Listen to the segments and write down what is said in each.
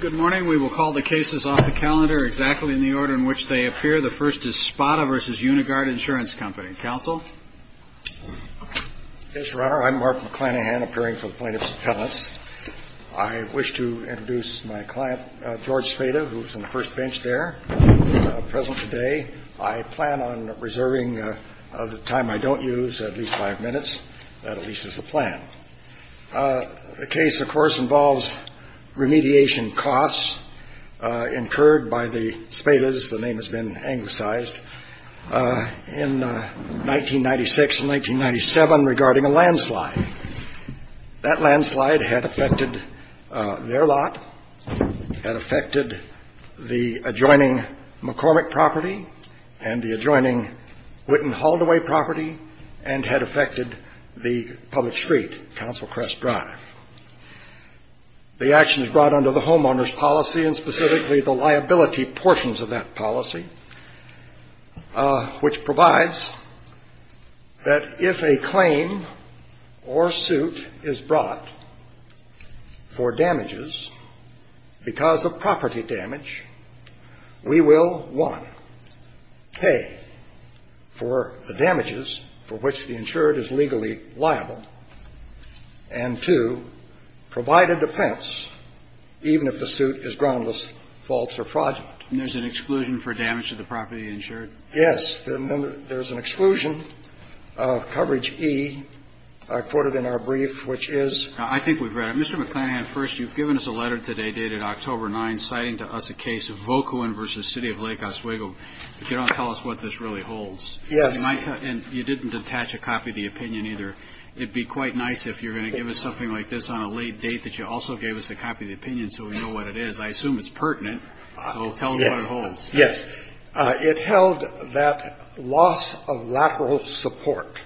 Good morning. We will call the cases off the calendar exactly in the order in which they appear. The first is Spada v. Unigard Insurance Company. Counsel? Yes, Your Honor. I'm Mark McClanahan, appearing for the plaintiff's appellants. I wish to introduce my client, George Spada, who is on the first bench there, present today. I plan on reserving the time I don't use, at least five minutes. That, at least, is the plan. The case, of course, involves remediation costs incurred by the Spadas, the name has been anglicized, in 1996 and 1997 regarding a landslide. That landslide had affected their lot, had affected the adjoining McCormick property and the adjoining Whitten-Haldoway property, and had affected the public street. That landslide had affected the adjoining Whitten-Haldoway property and the adjoining Whitten-Haldoway property, and had affected the public street. And two, provided defense, even if the suit is groundless, false or fraudulent. And there's an exclusion for damage to the property insured? Yes. And then there's an exclusion, coverage E, quoted in our brief, which is? I think we've read it. Mr. McClanahan, first, you've given us a letter today dated October 9 citing to us a case of Volkowen v. City of Lake Oswego, but you don't tell us what this really holds. Yes. And you didn't attach a copy of the opinion either. It'd be quite nice if you're going to give us something like this on a late date that you also gave us a copy of the opinion so we know what it is. I assume it's pertinent, so tell us what it holds. Yes. It held that loss of lateral support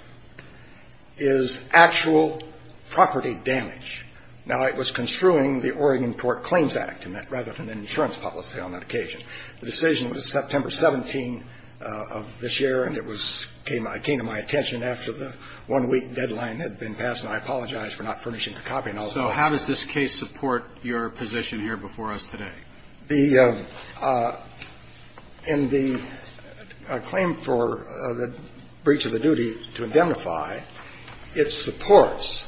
is actual property damage. Now, it was construing the Oregon Port Claims Act, rather than an insurance policy on that occasion. The decision was September 17 of this year, and it was came to my attention after the one-week deadline had been passed, and I apologize for not furnishing the copy. So how does this case support your position here before us today? In the claim for the breach of the duty to indemnify, it supports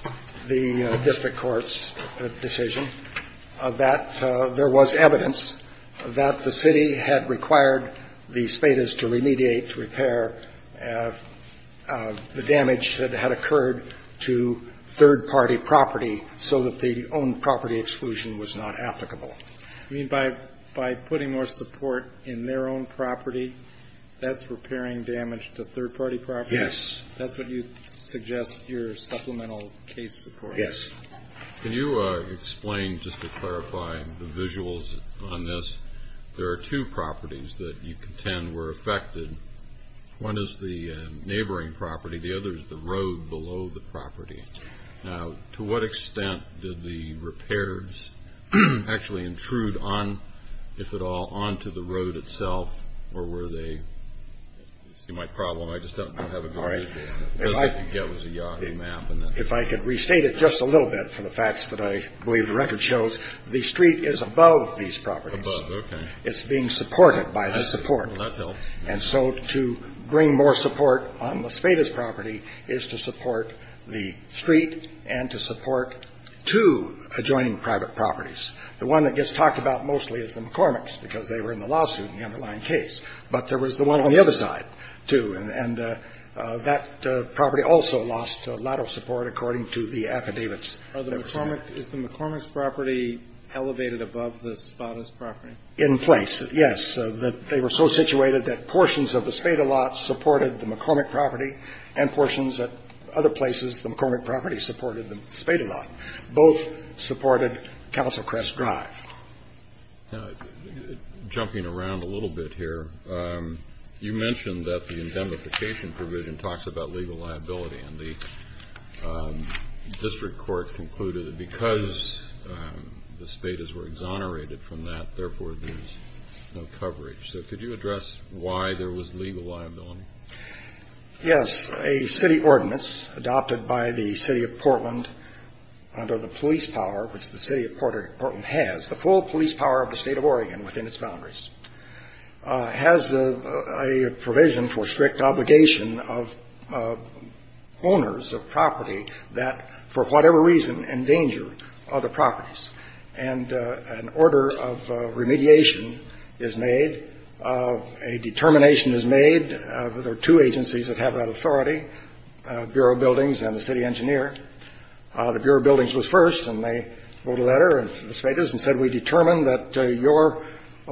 the district court's decision that there was evidence that the City of Lake Oswego had required the Spadas to remediate, to repair the damage that had occurred to third-party property so that the own property exclusion was not applicable. You mean by putting more support in their own property, that's repairing damage to third-party property? Yes. That's what you suggest your supplemental case support is? Yes. Can you explain, just to clarify the visuals on this, there are two properties that you contend were affected. One is the neighboring property. The other is the road below the property. Now, to what extent did the repairs actually intrude on, if at all, onto the road itself, or were they? You see my problem. I just don't have a good visual on it, because all I could get was a Yahoo map. If I could restate it just a little bit for the facts that I believe the record shows, the street is above these properties. Above, okay. It's being supported by the support. Well, that helps. And so to bring more support on the Spadas property is to support the street and to support two adjoining private properties. The one that gets talked about mostly is the McCormick's, because they were in the lawsuit in the underlying case. But there was the one on the other side, too. And that property also lost a lot of support, according to the affidavits. Is the McCormick's property elevated above the Spadas property? In place, yes. They were so situated that portions of the Spada lot supported the McCormick property, and portions at other places, the McCormick property supported the Spada lot. Both supported Council Crest Drive. Now, jumping around a little bit here, you mentioned that the indemnification provision talks about legal liability. And the district court concluded that because the Spadas were exonerated from that, therefore, there's no coverage. So could you address why there was legal liability? Yes. A city ordinance adopted by the city of Portland under the police power, which the city of Portland has, the full police power of the state of Oregon within its boundaries, has a provision for strict obligation of owners of property that, for whatever reason, endanger other properties. And an order of remediation is made. A determination is made. There are two agencies that have that authority, Bureau of Buildings and the city engineer. The Bureau of Buildings was first, and they wrote a letter to the Spadas and said, we determine that your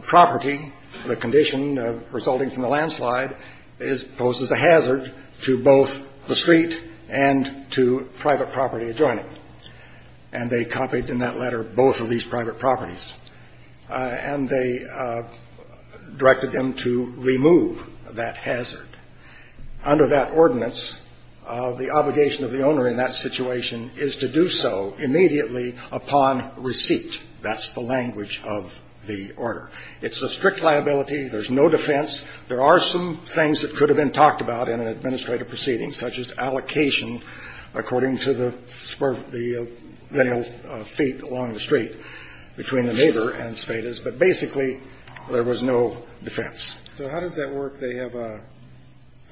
property, the condition resulting from the landslide, is posed as a hazard to both the street and to private property adjoining. And they copied in that letter both of these private properties. And they directed them to remove that hazard. Under that ordinance, the obligation of the owner in that situation is to do so immediately upon receipt. That's the language of the order. It's a strict liability. There's no defense. There are some things that could have been talked about in an administrative proceeding, such as allocation, according to the spur of the male feet along the street, between the neighbor and Spadas. But basically, there was no defense. So how does that work? They have a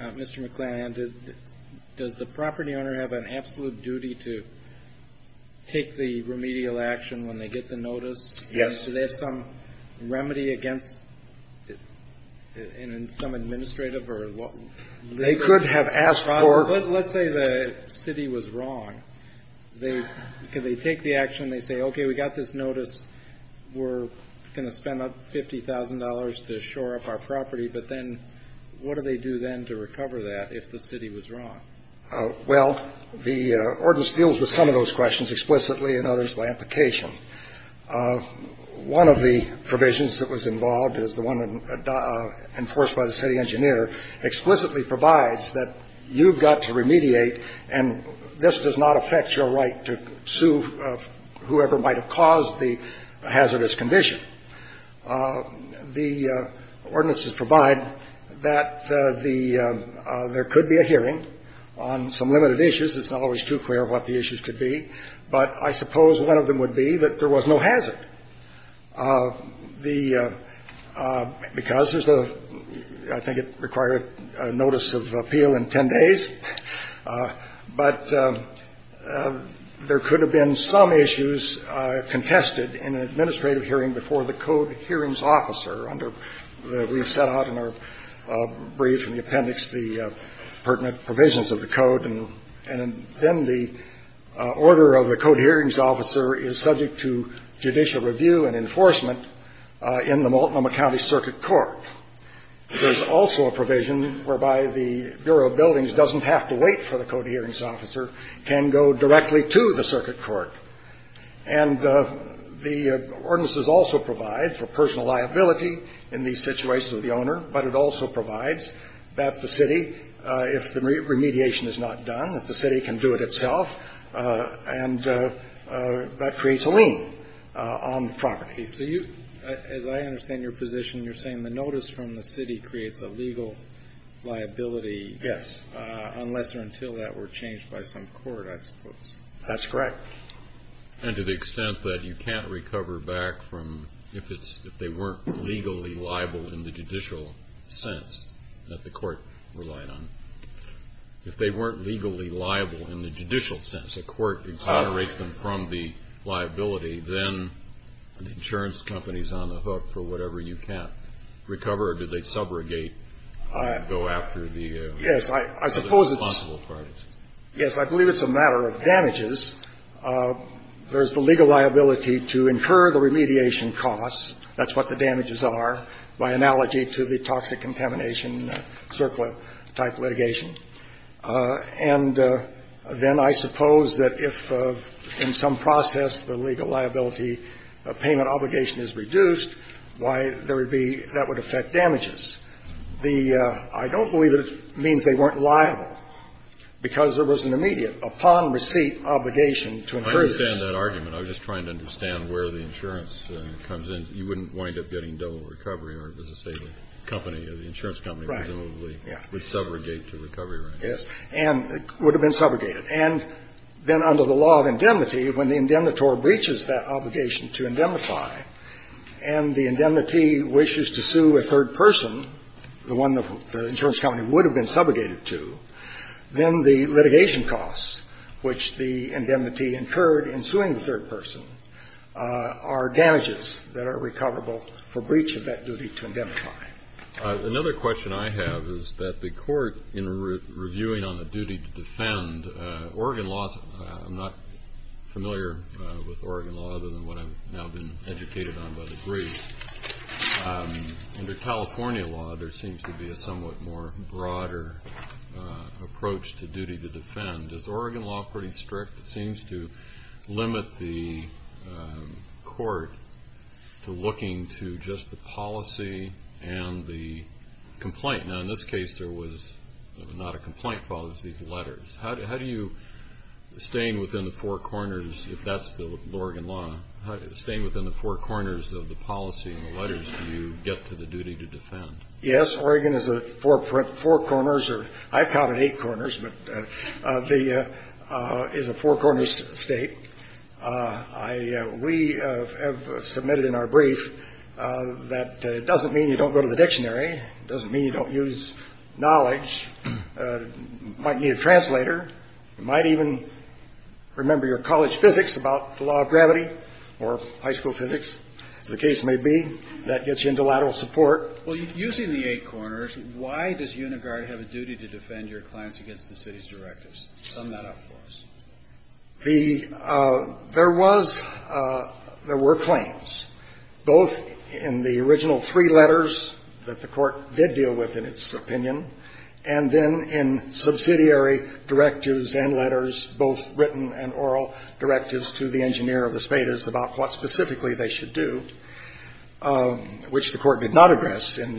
Mr. McClanahan. Does the property owner have an absolute duty to take the remedial action when they get the notice? Yes. Do they have some remedy against it in some administrative or what? They could have asked for. Let's say the city was wrong. Could they take the action and they say, okay, we got this notice. We're going to spend $50,000 to shore up our property. But then what do they do then to recover that if the city was wrong? Well, the ordinance deals with some of those questions explicitly and others by application. One of the provisions that was involved is the one enforced by the city engineer explicitly provides that you've got to remediate. And this does not affect your right to sue whoever might have caused the hazardous condition. The ordinances provide that the – there could be a hearing on some limited issues. It's not always too clear what the issues could be. But I suppose one of them would be that there was no hazard. The – because there's a – I think it required a notice of appeal in 10 days. But there could have been some issues contested in an administrative hearing before the code hearings officer under the – we've set out in our brief in the appendix the pertinent provisions of the code. And then the order of the code hearings officer is subject to judicial review and enforcement in the Multnomah County Circuit Court. There's also a provision whereby the Bureau of Buildings doesn't have to wait for the code hearings officer, can go directly to the circuit court. And the ordinances also provide for personal liability in the situation of the owner, but it also provides that the city, if the remediation is not done, that the city can do it itself, and that creates a lien on the property. So you – as I understand your position, you're saying the notice from the city creates a legal liability. Yes. Unless or until that were changed by some court, I suppose. That's correct. And to the extent that you can't recover back from – if it's – if they weren't legally liable in the judicial sense that the court relied on. If they weren't legally liable in the judicial sense, the court exonerates them from the liability, then the insurance company is on the hook for whatever you can't recover, or do they subrogate and go after the responsible parties? Yes. I suppose it's – yes, I believe it's a matter of damages. There's the legal liability to incur the remediation costs. That's what the damages are, by analogy to the toxic contamination, CERCLA-type litigation. And then I suppose that if in some process the legal liability payment obligation is reduced, why there would be – that would affect damages. The – I don't believe it means they weren't liable, because there was an immediate upon receipt obligation to incur. I understand that argument. I was just trying to understand where the insurance comes in. You wouldn't wind up getting double recovery or, as they say, the company, the insurance company, presumably, would subrogate to recovery, right? Yes. And it would have been subrogated. And then under the law of indemnity, when the indemnitor breaches that obligation to indemnify and the indemnity wishes to sue a third person, the one the insurance company would have been subrogated to, then the litigation costs, which the indemnity incurred in suing the third person, are damages that are recoverable for breach of that duty to indemnify. Another question I have is that the Court, in reviewing on the duty to defend, Oregon law – I'm not familiar with Oregon law other than what I've now been educated on by degree. Under California law, there seems to be a somewhat more broader approach to duty to defend. Is Oregon law pretty strict? It seems to limit the Court to looking to just the policy and the complaint. Now, in this case, there was not a complaint, but it was these letters. How do you, staying within the four corners, if that's the Oregon law, staying within the four corners of the policy and the letters, do you get to the duty to defend? Yes. Oregon is a four corners, or I've counted eight corners, but the – is a four corners state. I – we have submitted in our brief that it doesn't mean you don't go to the dictionary. It doesn't mean you don't use knowledge. You might need a translator. You might even remember your college physics about the law of gravity or high school physics. As the case may be, that gets you into lateral support. Well, using the eight corners, why does Unigard have a duty to defend your claims against the city's directives? Sum that up for us. The – there was – there were claims, both in the original three letters that the Court did deal with in its opinion, and then in subsidiary directives and letters, both written and oral directives to the engineer of the Spadas about what specifically they should do, which the Court did not address. In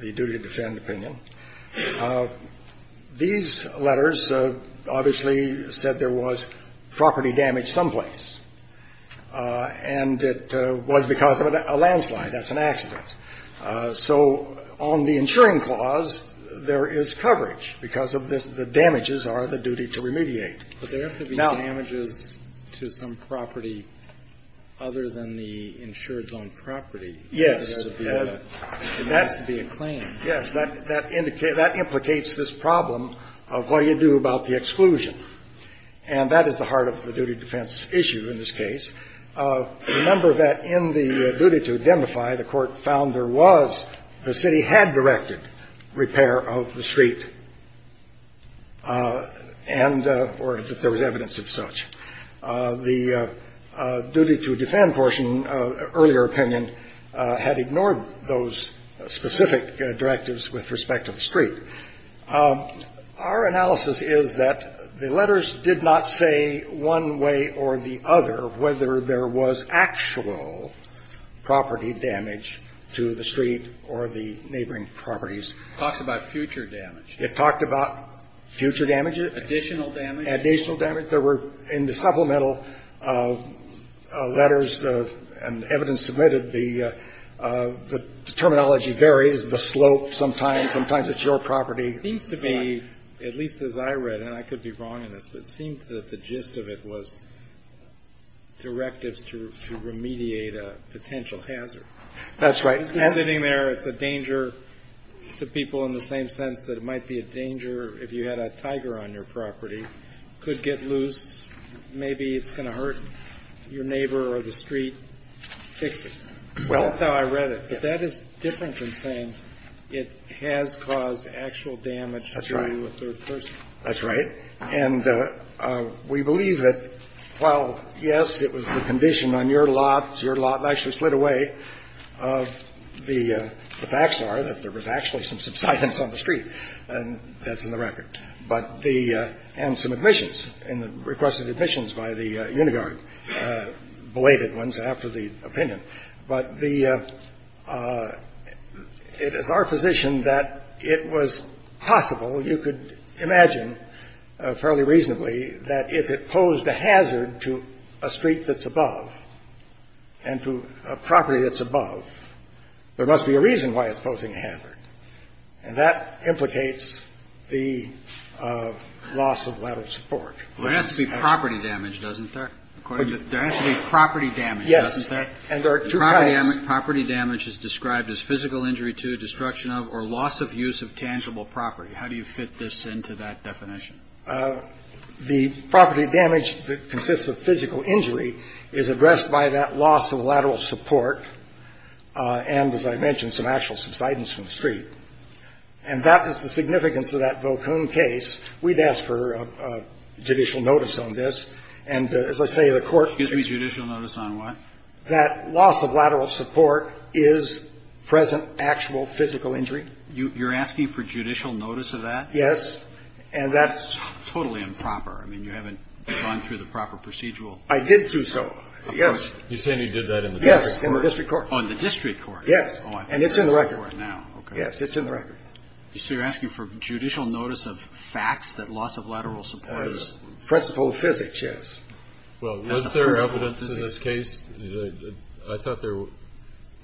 the duty to defend opinion, these letters obviously said there was property damage someplace, and it was because of a landslide. That's an accident. So on the insuring clause, there is coverage because of this. The damages are the duty to remediate. But there have to be damages to some property other than the insured zone property. Yes. There has to be a claim. Yes, that indicates – that implicates this problem of what do you do about the exclusion. And that is the heart of the duty defense issue in this case. Remember that in the duty to identify, the Court found there was – the city had directed repair of the street and – or that there was evidence of such. The duty to defend portion, earlier opinion, had ignored those specific directives with respect to the street. Our analysis is that the letters did not say one way or the other whether there was actual property damage to the street or the neighboring properties. It talks about future damage. It talked about future damage. Additional damage. Additional damage. There were – in the supplemental letters and evidence submitted, the terminology varies. The slope sometimes. Sometimes it's your property. It seems to be, at least as I read, and I could be wrong in this, but it seemed that the gist of it was directives to remediate a potential hazard. That's right. I was just sitting there. It's a danger to people in the same sense that it might be a danger if you had a tiger on your property. Could get loose. Maybe it's going to hurt your neighbor or the street. Fix it. Well, that's how I read it. But that is different from saying it has caused actual damage to a third person. That's right. And we believe that while, yes, it was the condition on your lot, your lot actually slid away, the facts are that there was actually some subsidence on the street. And that's in the record. But the – and some admissions and the request of admissions by the Unigard belated ones after the opinion. But the – it is our position that it was possible, you could imagine fairly reasonably, that if it posed a hazard to a street that's above and to a property that's above, there must be a reason why it's posing a hazard. And that implicates the loss of lateral support. Well, there has to be property damage, doesn't there? According to the – there has to be property damage, doesn't there? And there are two kinds. Property damage is described as physical injury to, destruction of, or loss of use of tangible property. How do you fit this into that definition? The property damage that consists of physical injury is addressed by that loss of lateral support and, as I mentioned, some actual subsidence from the street. And that is the significance of that Vocoon case. We'd ask for judicial notice on this. And as I say, the court – Gives me judicial notice on what? That loss of lateral support is present actual physical injury. You're asking for judicial notice of that? Yes. And that's totally improper. I mean, you haven't gone through the proper procedural – I did do so, yes. You're saying you did that in the district court? Yes, in the district court. Oh, in the district court. Yes. Oh, I've got to go to the district court now, okay. Yes, it's in the record. So you're asking for judicial notice of facts that loss of lateral support is – Principle of physics, yes. Well, was there evidence in this case – I thought there –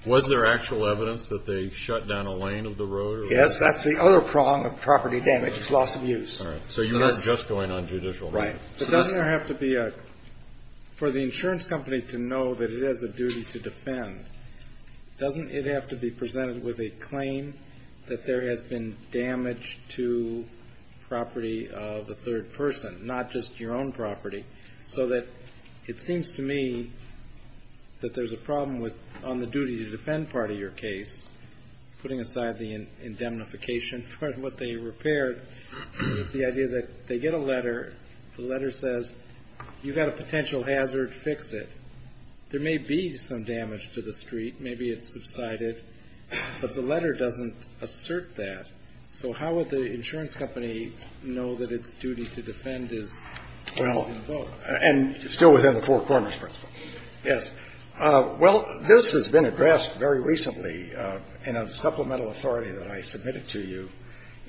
was there actual evidence that they shut down a lane of the road or – Yes, that's the other prong of property damage is loss of use. All right. So you're not just going on judicial notice. Right. But doesn't there have to be a – for the insurance company to know that it has a duty to defend, doesn't it have to be presented with a claim that there has been damage to property of a third person, not just your own property? So that it seems to me that there's a problem with – on the duty to defend part of your case, putting aside the indemnification for what they repaired, the idea that they get a letter, the letter says, you've got a potential hazard, fix it. There may be some damage to the street, maybe it's subsided, but the letter doesn't assert that. So how would the insurance company know that its duty to defend is invoked? Well, and still within the Four Corners principle, yes. Well, this has been addressed very recently in a supplemental authority that I submitted to you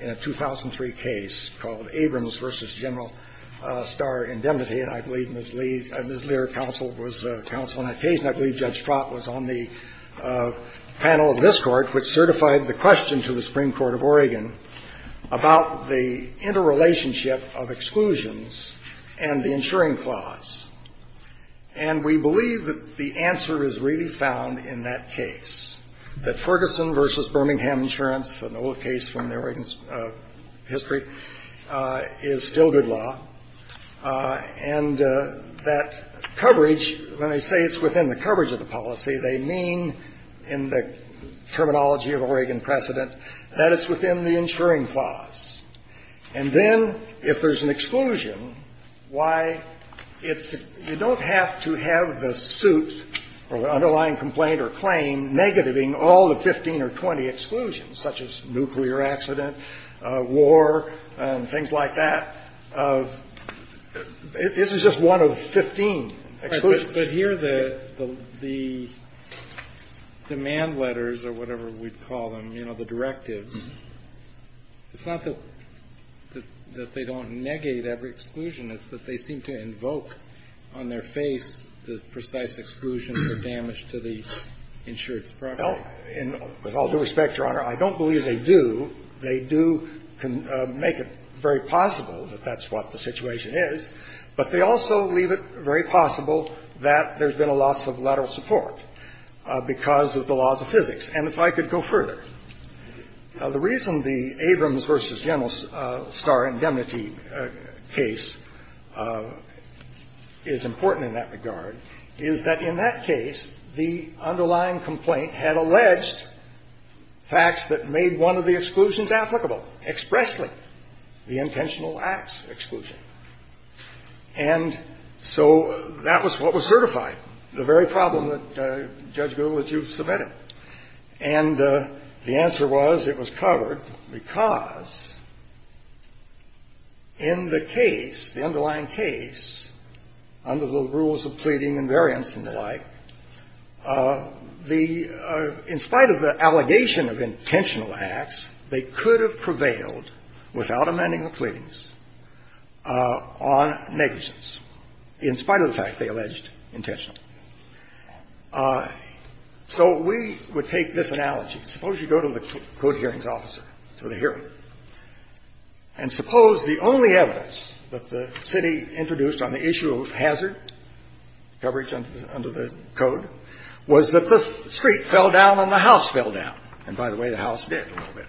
in a 2003 case called Abrams v. General Starr Indemnity, and I believe Ms. Lear counseled on that case, and I believe Judge Strott was on the panel of this court, which certified the question to the Supreme Court of Oregon about the interrelationship of exclusions and the insuring clause. And we believe that the answer is really found in that case, that Ferguson v. Birmingham Insurance, an old case from the Oregon's history, is still good law, and that coverage – when I say it's within the coverage of the policy, they mean in the terminology of Oregon precedent that it's within the insuring clause. And then if there's an exclusion, why it's – you don't have to have the suit or the underlying complaint or claim negating all the 15 or 20 exclusions, such as nuclear accident, war, and things like that. This is just one of 15 exclusions. But here, the demand letters or whatever we'd call them, you know, the directives, it's not that they don't negate every exclusion. It's that they seem to invoke on their face the precise exclusion for damage to the insured property. Well, with all due respect, Your Honor, I don't believe they do. They do make it very possible that that's what the situation is, but they also leave it very possible that there's been a loss of lateral support because of the laws of physics. And if I could go further, the reason the Abrams v. General Starr indemnity case is important in that regard is that in that case, the underlying complaint had alleged facts that made one of the exclusions applicable expressly, the intentional acts exclusion. And so that was what was certified, the very problem that Judge Gould had used to vet it. And the answer was it was covered because in the case, the underlying case, under the rules of pleading and variance and the like, the underlying case, in spite of the allegation of intentional acts, they could have prevailed without amending the pleadings on negligence in spite of the fact they alleged intentional. So we would take this analogy. Suppose you go to the court hearings officer for the hearing, and suppose the only evidence that the city introduced on the issue of hazard coverage under the code was that the street fell down and the house fell down. And by the way, the house did a little bit,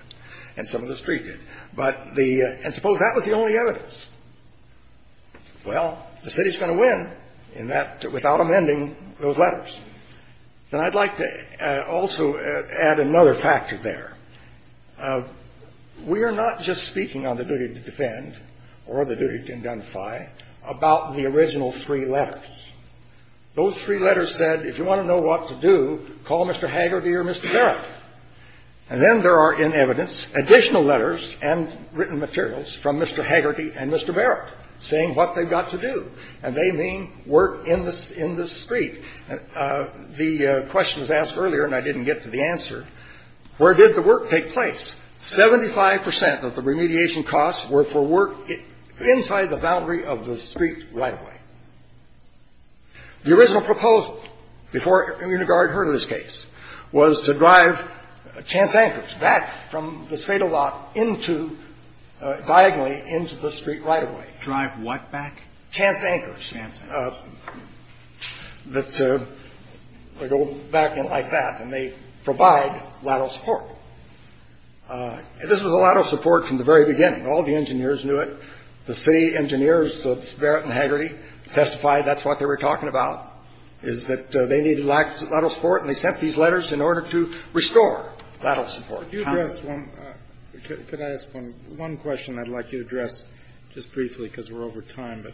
and some of the street did. But the – and suppose that was the only evidence. Well, the city's going to win in that – without amending those letters. And I'd like to also add another factor there. We are not just speaking on the duty to defend or the duty to indemnify about the original three letters. Those three letters said, if you want to know what to do, call Mr. Haggerty or Mr. Barrett. And then there are, in evidence, additional letters and written materials from Mr. Haggerty and Mr. Barrett saying what they've got to do, and they mean work in the – in the street. The question was asked earlier, and I didn't get to the answer. Where did the work take place? Seventy-five percent of the remediation costs were for work inside the boundary of the street right-of-way. The original proposal before Immune Guard heard of this case was to drive chance anchors back from this fatal lot into – diagonally into the street right-of-way. Drive what back? Chance anchors. Chance anchors. That go back in like that, and they provide lateral support. This was a lateral support from the very beginning. All the engineers knew it. The city engineers, Mr. Barrett and Haggerty, testified that's what they were talking about, is that they needed lateral support, and they sent these letters in order to restore lateral support. Could you address one – could I ask one question I'd like you to address just briefly, because we're over time, but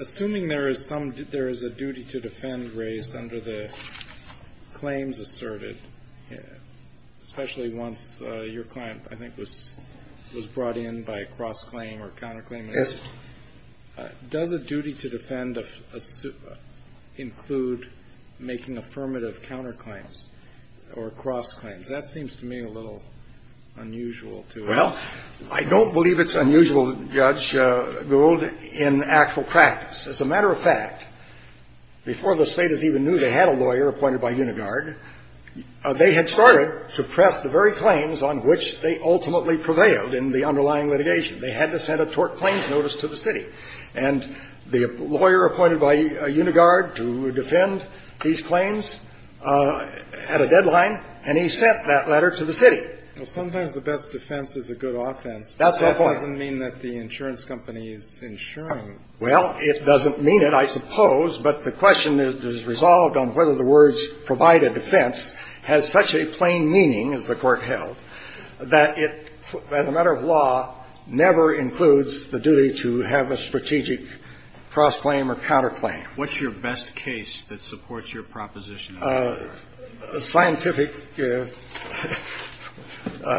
assuming there is some – there is a duty to defend race under the claims asserted, especially once your client, I think, was – was brought in by a cross-claim or counter-claim assertion, does a duty to defend include making affirmative counter-claims or cross-claims? That seems to me a little unusual to us. Well, I don't believe it's unusual, Judge Gould, in actual practice. As a matter of fact, before the Staters even knew they had a lawyer appointed by Immune Guard, they had started to press the very claims on which they ultimately prevailed in the underlying litigation. They had to send a tort claims notice to the city. And the lawyer appointed by Immune Guard to defend these claims had a deadline, and he sent that letter to the city. Well, sometimes the best defense is a good offense, but that doesn't mean that the insurance company is insuring. Well, it doesn't mean it, I suppose, but the question is resolved on whether the words provided defense has such a plain meaning, as the Court held, that it, as a matter of law, never includes the duty to have a strategic cross-claim or counter-claim. What's your best case that supports your proposition? Scientific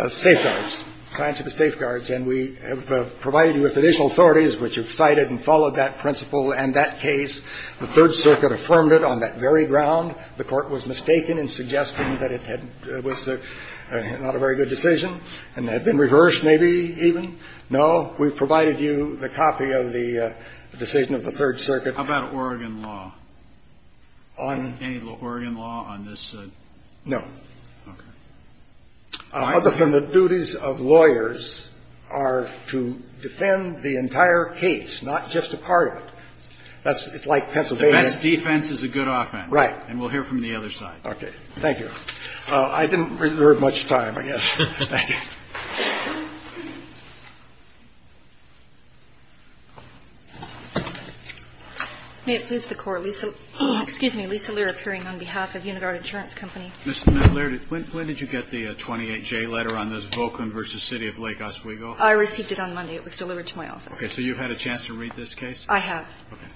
safeguards, scientific safeguards. And we have provided you with additional authorities which have cited and followed that principle and that case. The Third Circuit affirmed it on that very ground. The Court was mistaken in suggesting that it was not a very good decision and had been reversed, maybe, even. No, we've provided you the copy of the decision of the Third Circuit. How about Oregon law? Any Oregon law on this? No. Okay. Other than the duties of lawyers are to defend the entire case, not just a part of it. That's like Pennsylvania. The best defense is a good offense. Right. And we'll hear from the other side. Okay. Thank you. I didn't reserve much time, I guess. Thank you. May it please the Court. Lisa, excuse me. Lisa Lear, appearing on behalf of Unigard Insurance Company. Ms. Lear, when did you get the 28-J letter on this Volkman v. City of Lake Oswego? I received it on Monday. It was delivered to my office. Okay. So you've had a chance to read this case? I have. Okay.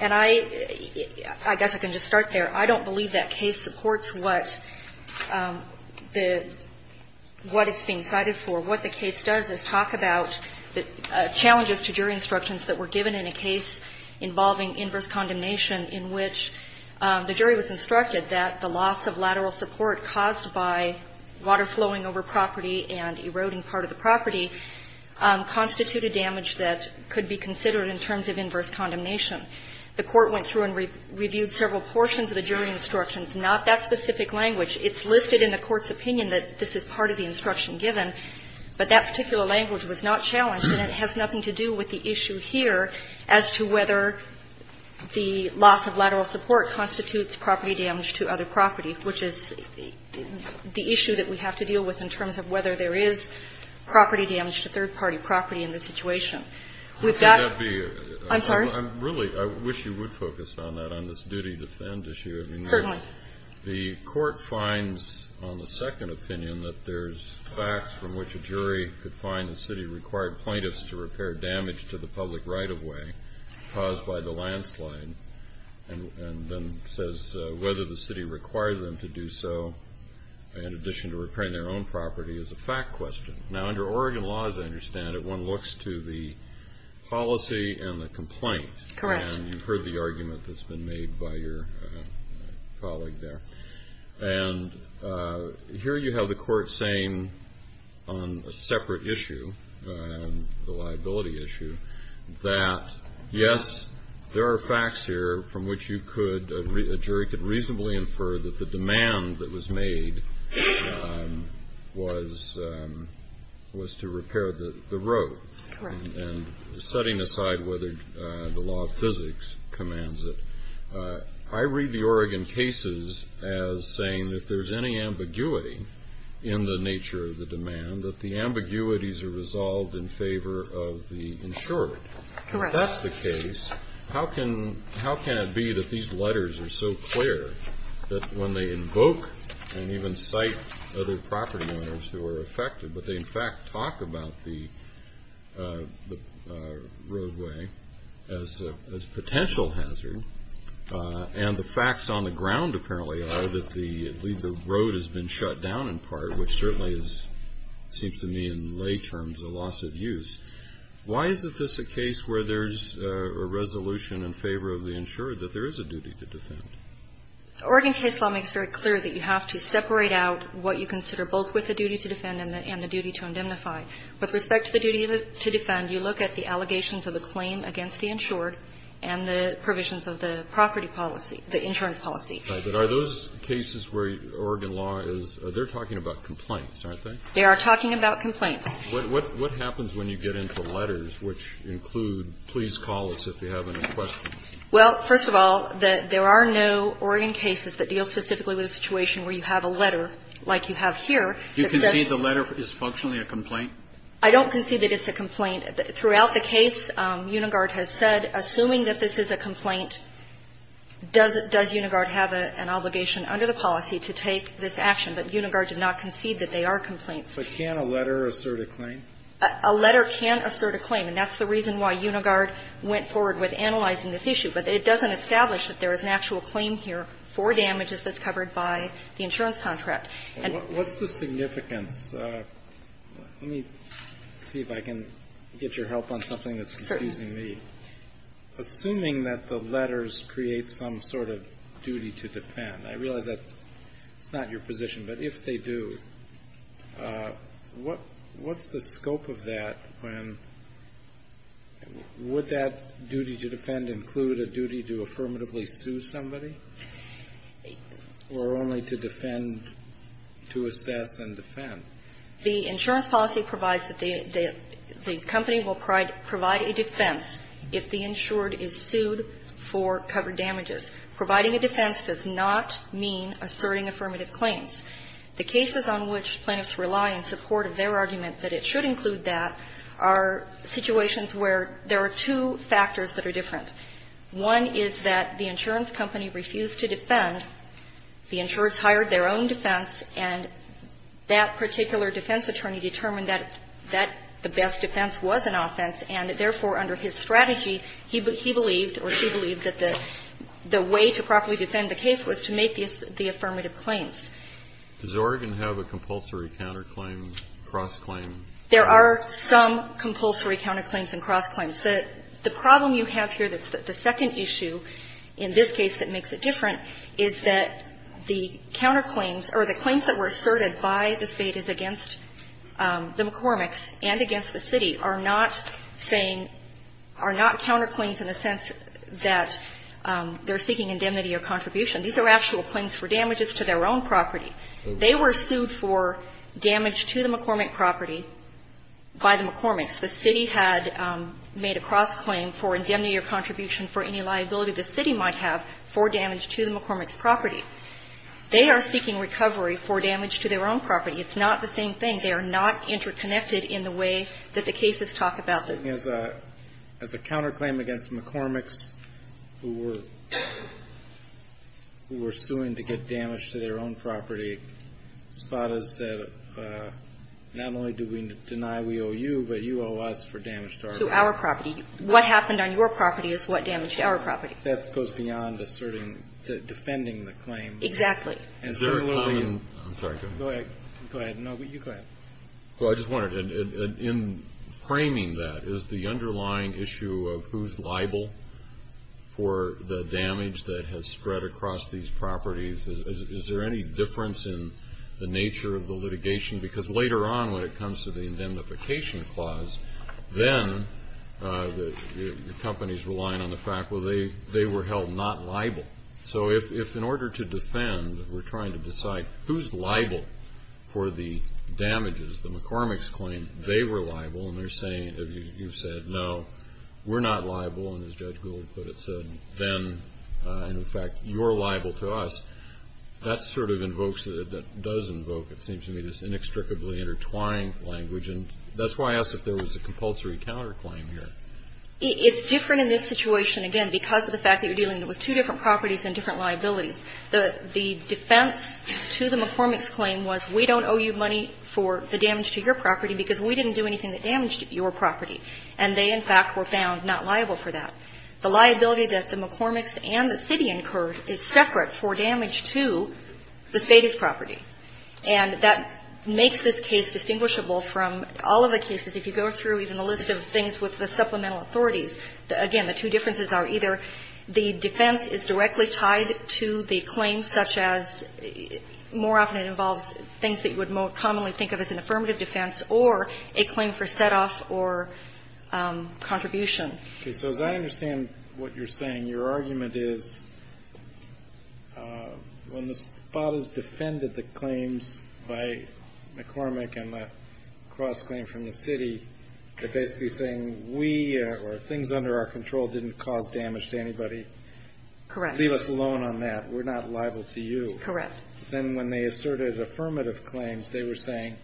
And I guess I can just start there. I don't believe that case supports what the – what it's being cited for. What the case does is talk about the challenges to jury instructions that were given in a case involving inverse condemnation in which the jury was instructed that the loss of lateral support caused by water flowing over property and eroding part of the property constituted damage that could be considered in terms of inverse condemnation. The court went through and reviewed several portions of the jury instructions, not that specific language. It's listed in the court's opinion that this is part of the instruction given, but that particular language was not challenged and it has nothing to do with the issue here as to whether the loss of lateral support constitutes property damage to other property, which is the issue that we have to deal with in terms of whether there is property damage to third-party property in this situation. Would that be – I'm sorry? Really, I wish you would focus on that, on this duty to defend issue. Certainly. I mean, the court finds on the second opinion that there's facts from which a jury could find the city required plaintiffs to repair damage to the public right-of-way caused by the landslide and then says whether the city required them to do so in addition to repairing their own property is a fact question. Now, under Oregon law, as I understand it, one looks to the policy and the complaint. Correct. And you've heard the argument that's been made by your colleague there. And here you have the court saying on a separate issue, the liability issue, that yes, there are facts here from which you could – a jury could reasonably infer that the demand that was made was to repair the road. Correct. And setting aside whether the law of physics commands it, I read the Oregon cases as saying that if there's any ambiguity in the nature of the demand, that the ambiguities are resolved in favor of the insured. Correct. If that's the case, how can it be that these letters are so clear that when they invoke and even cite other property owners who are affected, but they in fact talk about the roadway as a potential hazard, and the facts on the ground apparently are that the road has been shut down in part, which certainly seems to me in lay terms a loss of use. Why is it this a case where there's a resolution in favor of the insured that there is a duty to defend? Oregon case law makes very clear that you have to separate out what you consider both with the duty to defend and the duty to indemnify. With respect to the duty to defend, you look at the allegations of the claim against the insured and the provisions of the property policy, the insurance policy. But are those cases where Oregon law is – they're talking about complaints, aren't they? They are talking about complaints. What happens when you get into letters which include, please call us if you have any questions? Well, first of all, there are no Oregon cases that deal specifically with a situation where you have a letter like you have here that says – Do you concede the letter is functionally a complaint? I don't concede that it's a complaint. Throughout the case, Unigard has said, assuming that this is a complaint, does Unigard have an obligation under the policy to take this action? But Unigard did not concede that they are complaints. So can a letter assert a claim? A letter can assert a claim, and that's the reason why Unigard went forward with analyzing this issue. But it doesn't establish that there is an actual claim here for damages that's covered by the insurance contract. What's the significance – let me see if I can get your help on something that's confusing me. Assuming that the letters create some sort of duty to defend. I realize that's not your position, but if they do, what's the scope of that when – would that duty to defend include a duty to affirmatively sue somebody or only to defend – to assess and defend? The insurance policy provides that the company will provide a defense if the insured is sued for covered damages. Providing a defense does not mean asserting affirmative claims. The cases on which plaintiffs rely in support of their argument that it should include that are situations where there are two factors that are different. One is that the insurance company refused to defend. The insurers hired their own defense, and that particular defense attorney determined that the best defense was an offense, and therefore, under his strategy, he believed or she believed that the way to properly defend the case was to make the affirmative claims. Does Oregon have a compulsory counterclaim, cross-claim? There are some compulsory counterclaims and cross-claims. The problem you have here that's the second issue in this case that makes it different is that the counterclaims or the claims that were asserted by the Spades against the McCormick's and against the city are not saying, are not counterclaims in the sense that they're seeking indemnity or contribution. These are actual claims for damages to their own property. They were sued for damage to the McCormick property by the McCormick's. The city had made a cross-claim for indemnity or contribution for any liability the city might have for damage to the McCormick's property. They are seeking recovery for damage to their own property. It's not the same thing. They are not interconnected in the way that the cases talk about them. As a counterclaim against McCormick's, who were suing to get damage to their own property, Spades said, not only do we deny we owe you, but you owe us for damage to our property. To our property. What happened on your property is what damaged our property. That goes beyond asserting, defending the claim. Exactly. Is there a common? I'm sorry. Go ahead. Go ahead. No, you go ahead. Well, I just wondered, in framing that, is the underlying issue of who's liable for the damage that has spread across these properties, is there any difference in the nature of the litigation? Because later on when it comes to the indemnification clause, then the company's relying on the fact, well, they were held not liable. So if in order to defend, we're trying to decide who's liable for the damages, the McCormick's claim, they were liable, and they're saying, you said, no, we're not liable, and as Judge Gould put it, said, then, and in fact, you're liable to us, that sort of invokes, that does invoke, it seems to me, this inextricably intertwined language. And that's why I asked if there was a compulsory counterclaim here. It's different in this situation, again, because of the fact that you're dealing with two different properties and different liabilities. The defense to the McCormick's claim was, we don't owe you money for the damage to your property because we didn't do anything that damaged your property. And they, in fact, were found not liable for that. The liability that the McCormick's and the city incurred is separate for damage to the state's property. And that makes this case distinguishable from all of the cases. If you go through even a list of things with the supplemental authorities, again, the two differences are either the defense is directly tied to the claim such as more often it involves things that you would more commonly think of as an affirmative defense or a claim for set-off or contribution. Okay. So as I understand what you're saying, your argument is when the spot is defended the claims by McCormick and the cross-claim from the city, they're basically saying we or things under our control didn't cause damage to anybody. Correct. Leave us alone on that. We're not liable to you. Correct. Then when they asserted affirmative claims, they were saying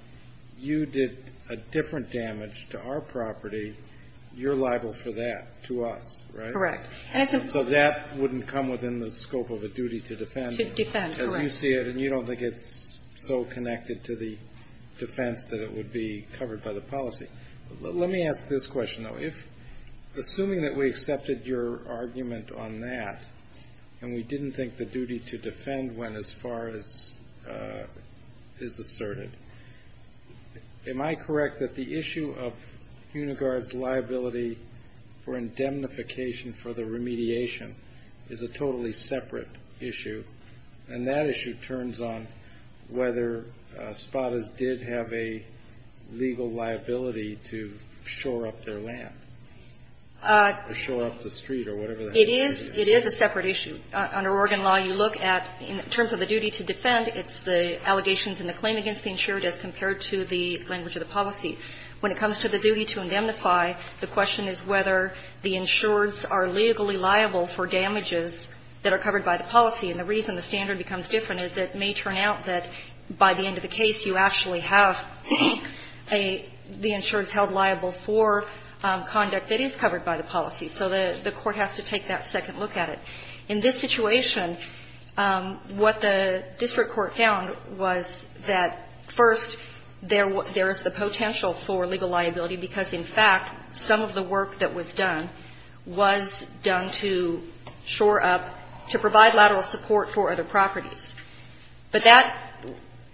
you did a different damage to our property, you're liable for that to us, right? Correct. So that wouldn't come within the scope of a duty to defend. To defend, correct. Because you see it and you don't think it's so connected to the defense that it would be covered by the policy. Let me ask this question though. Assuming that we accepted your argument on that and we didn't think the duty to defend went as far as is asserted, am I correct that the issue of Unigard's liability for indemnification for the remediation is a totally separate issue and that issue turns on whether Spottas did have a legal liability to shore up their land or shore up the street or whatever the heck it is? It is a separate issue. Under Oregon law, you look at in terms of the duty to defend, it's the allegations and the claim against the insured as compared to the language of the policy. When it comes to the duty to indemnify, the question is whether the insureds are legally liable for damages that are covered by the policy. And the reason the standard becomes different is it may turn out that by the end of the case, you actually have the insureds held liable for conduct that is covered by the policy. So the court has to take that second look at it. In this situation, what the district court found was that, first, there is the potential for legal liability because, in fact, some of the work that was done was done to shore up, to provide lateral support for other properties. But that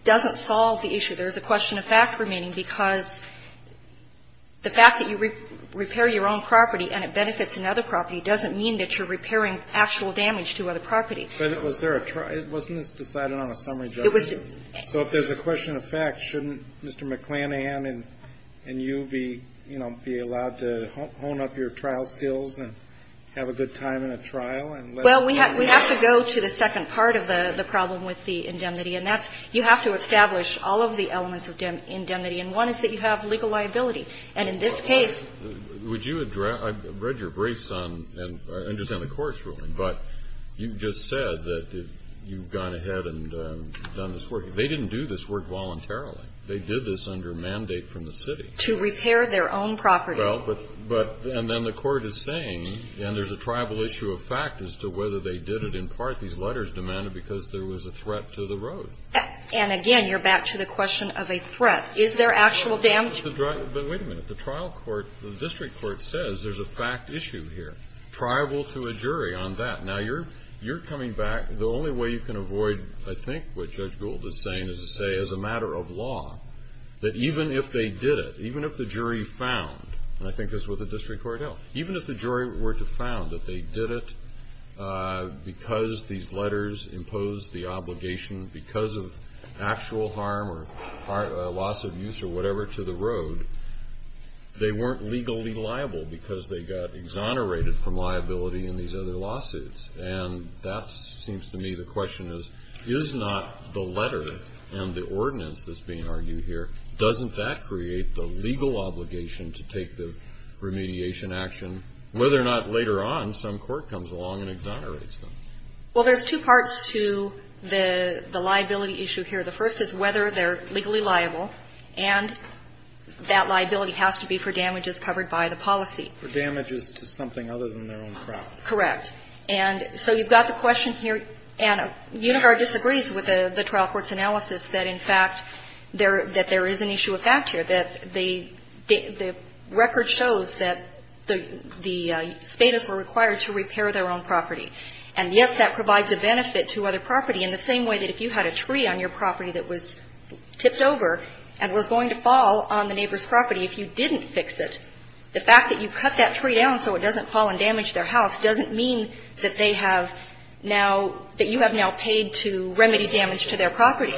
doesn't solve the issue. There is a question of fact remaining because the fact that you repair your own property and it benefits another property doesn't mean that you're repairing actual damage to other property. But was there a try? Wasn't this decided on a summary judgment? It was. So if there's a question of fact, shouldn't Mr. McClanahan and you be, you know, be allowed to hone up your trial skills and have a good time in a trial? Well, we have to go to the second part of the problem with the indemnity, and that's you have to establish all of the elements of indemnity. And one is that you have legal liability. And in this case ---- Would you address ---- I've read your briefs on and understand the court's ruling, but you just said that you've gone ahead and done this work. They didn't do this work voluntarily. They did this under mandate from the city. To repair their own property. Well, but then the court is saying, and there's a tribal issue of fact as to whether they did it in part. These letters demanded because there was a threat to the road. And again, you're back to the question of a threat. Is there actual damage? But wait a minute. The trial court, the district court says there's a fact issue here. Tribal to a jury on that. Now, you're coming back. The only way you can avoid, I think, what Judge Gould is saying is to say, as a matter of law, that even if they did it, even if the jury found, and I think it's with the district court now, even if the jury were to found that they did it because these letters imposed the obligation because of actual harm or loss of use or whatever to the road, they weren't legally liable because they got exonerated from liability in these other lawsuits. And that seems to me the question is, is not the letter and the ordinance that's being argued here, doesn't that create the legal obligation to take the remediation action, whether or not later on some court comes along and exonerates them? Well, there's two parts to the liability issue here. The first is whether they're legally liable. And that liability has to be for damages covered by the policy. For damages to something other than their own property. Correct. And so you've got the question here, and Unigard disagrees with the trial court's analysis that, in fact, that there is an issue of fact here, that the record shows that the Spadas were required to repair their own property. And, yes, that provides a benefit to other property in the same way that if you had a tree on your property that was tipped over and was going to fall on the neighbor's property, if you didn't fix it, the fact that you cut that tree down so it doesn't fall and damage their house doesn't mean that they have now, that you have now paid to remedy damage to their property.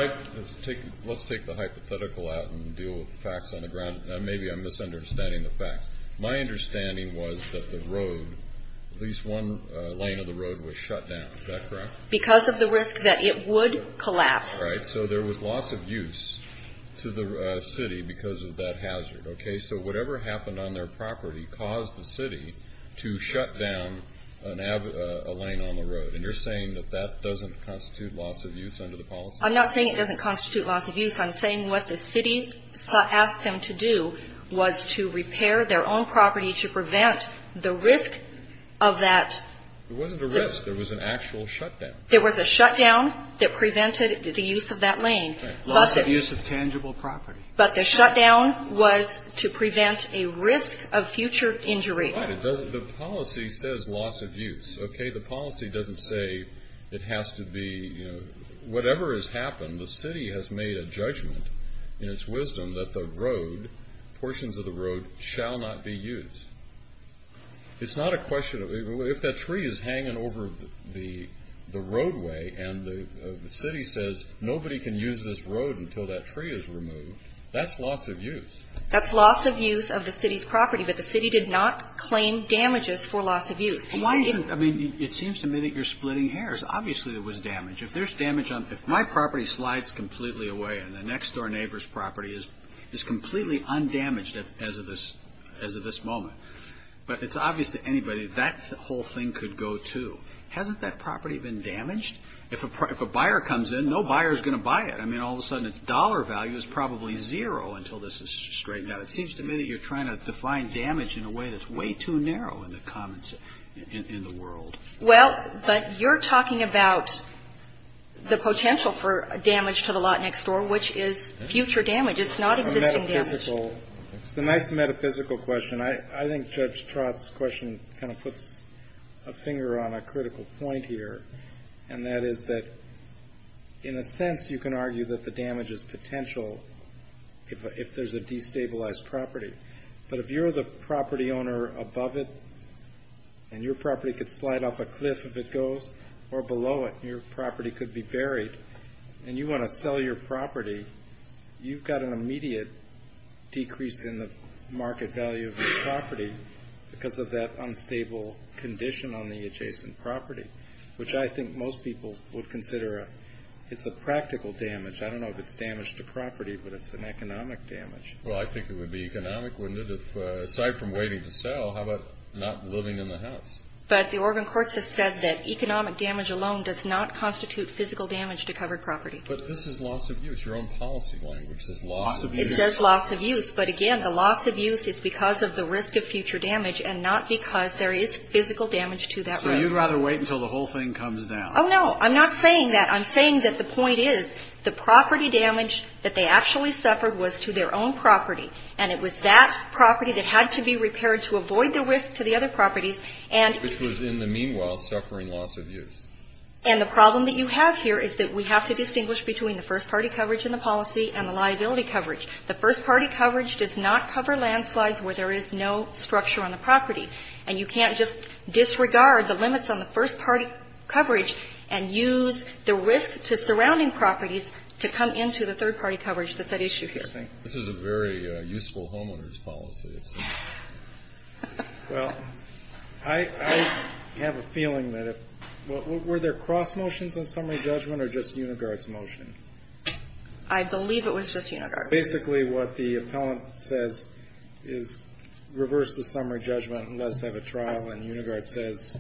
Let's take the hypothetical out and deal with the facts on the ground. Maybe I'm misunderstanding the facts. My understanding was that the road, at least one lane of the road was shut down. Is that correct? Because of the risk that it would collapse. Right. So there was loss of use to the city because of that hazard. Okay. So whatever happened on their property caused the city to shut down a lane on the road. And you're saying that that doesn't constitute loss of use under the policy? I'm not saying it doesn't constitute loss of use. I'm saying what the city asked them to do was to repair their own property to prevent the risk of that. It wasn't a risk. There was an actual shutdown. There was a shutdown that prevented the use of that lane. Loss of use of tangible property. But the shutdown was to prevent a risk of future injury. Right. It doesn't, the policy says loss of use. Okay. The policy doesn't say it has to be, you know, whatever has happened, the city has made a judgment in its wisdom that the road, portions of the road shall not be used. It's not a question of, if that tree is hanging over the roadway and the city says nobody can use this road until that tree is removed, that's loss of use. That's loss of use of the city's property. But the city did not claim damages for loss of use. I mean, it seems to me that you're splitting hairs. Obviously there was damage. If there's damage on, if my property slides completely away and the next door neighbor's property is completely undamaged as of this moment. But it's obvious to anybody that whole thing could go too. Hasn't that property been damaged? If a buyer comes in, no buyer is going to buy it. I mean, all of a sudden its dollar value is probably zero until this is straightened out. It seems to me that you're trying to define damage in a way that's way too narrow in the world. Well, but you're talking about the potential for damage to the lot next door, which is future damage. It's not existing damage. It's a nice metaphysical question. I think Judge Trott's question kind of puts a finger on a critical point here, and that is that in a sense you can argue that the damage is potential if there's a destabilized property. But if you're the property owner above it and your property could slide off a cliff if it goes, or below it and your property could be buried, and you want to sell your property, you've got an immediate decrease in the market value of your property because of that unstable condition on the adjacent property, which I think most people would consider it's a practical damage. I don't know if it's damage to property, but it's an economic damage. Well, I think it would be economic, wouldn't it? If aside from waiting to sell, how about not living in the house? But the Oregon courts have said that economic damage alone does not constitute physical damage to covered property. But this is loss of use. Your own policy language says loss of use. It says loss of use. But again, the loss of use is because of the risk of future damage and not because there is physical damage to that property. So you'd rather wait until the whole thing comes down. Oh, no. I'm not saying that. I'm saying that the point is the property damage that they actually suffered was to their own property. And it was that property that had to be repaired to avoid the risk to the other properties. Which was in the meanwhile suffering loss of use. And the problem that you have here is that we have to distinguish between the first-party coverage in the policy and the liability coverage. The first-party coverage does not cover landslides where there is no structure on the property. And you can't just disregard the limits on the first-party coverage and use the risk to surrounding properties to come into the third-party coverage that's at issue here. This is a very useful homeowners policy. Well, I have a feeling that if, were there cross motions on summary judgment or just Unigard's motion? I believe it was just Unigard's. Basically what the appellant says is reverse the summary judgment and let's have a trial. And Unigard says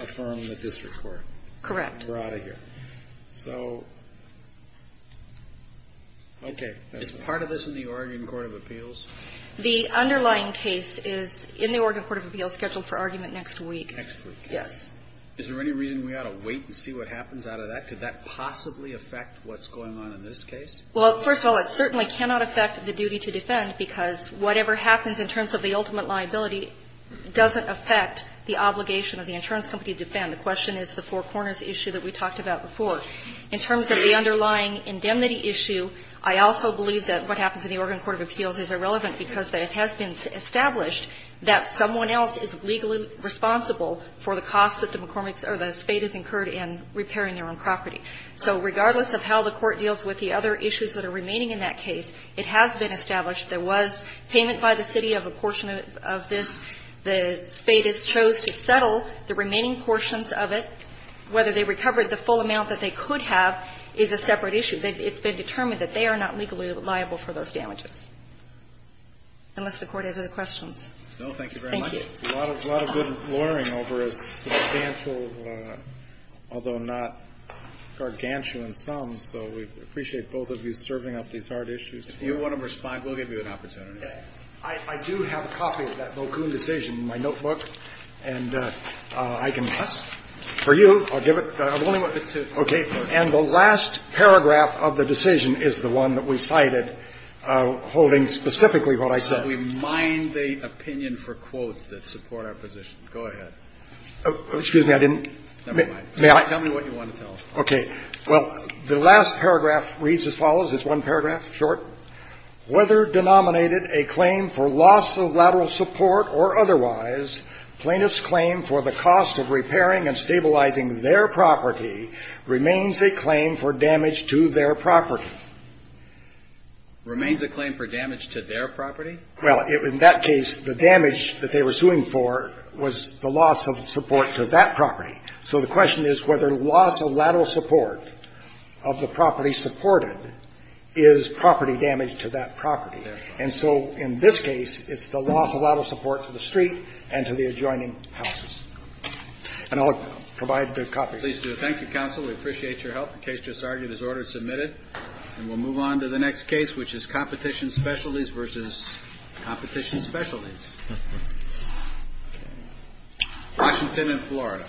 affirm the district court. Correct. And we're out of here. So, okay. Is part of this in the Oregon Court of Appeals? The underlying case is in the Oregon Court of Appeals scheduled for argument next week. Next week. Yes. Is there any reason we ought to wait and see what happens out of that? Could that possibly affect what's going on in this case? Well, first of all, it certainly cannot affect the duty to defend because whatever happens in terms of the ultimate liability doesn't affect the obligation of the insurance company to defend. The question is the Four Corners issue that we talked about before. In terms of the underlying indemnity issue, I also believe that what happens in the case of the McCormick case is irrelevant because it has been established that someone else is legally responsible for the costs that the McCormick's or the Spada's incurred in repairing their own property. So regardless of how the court deals with the other issues that are remaining in that case, it has been established there was payment by the city of a portion of this. The Spada's chose to settle the remaining portions of it. Whether they recovered the full amount that they could have is a separate issue. It's been determined that they are not legally liable for those damages. Unless the Court has other questions. No, thank you very much. Thank you. A lot of good loitering over a substantial, although not gargantuan sum. So we appreciate both of you serving up these hard issues. If you want to respond, we'll give you an opportunity. I do have a copy of that Bocoon decision in my notebook, and I can pass. For you. I'll give it. I've only got the two. Okay. And the last paragraph of the decision is the one that we cited holding specifically what I said. We mind the opinion for quotes that support our position. Go ahead. Excuse me, I didn't. Never mind. Tell me what you want to tell us. Okay. Well, the last paragraph reads as follows. It's one paragraph short. Whether denominated a claim for loss of lateral support or otherwise, plaintiff's claim for the cost of repairing and stabilizing their property remains a claim for damage to their property. Remains a claim for damage to their property. Well, in that case, the damage that they were suing for was the loss of support to that property. So the question is whether loss of lateral support of the property supported is property damage to that property. And so in this case, it's the loss of lateral support to the street and to the adjoining houses. And I'll provide the copy. Please do. Thank you, counsel. We appreciate your help. The case just argued is order submitted. And we'll move on to the next case, which is competition specialties versus competition specialties. Washington and Florida.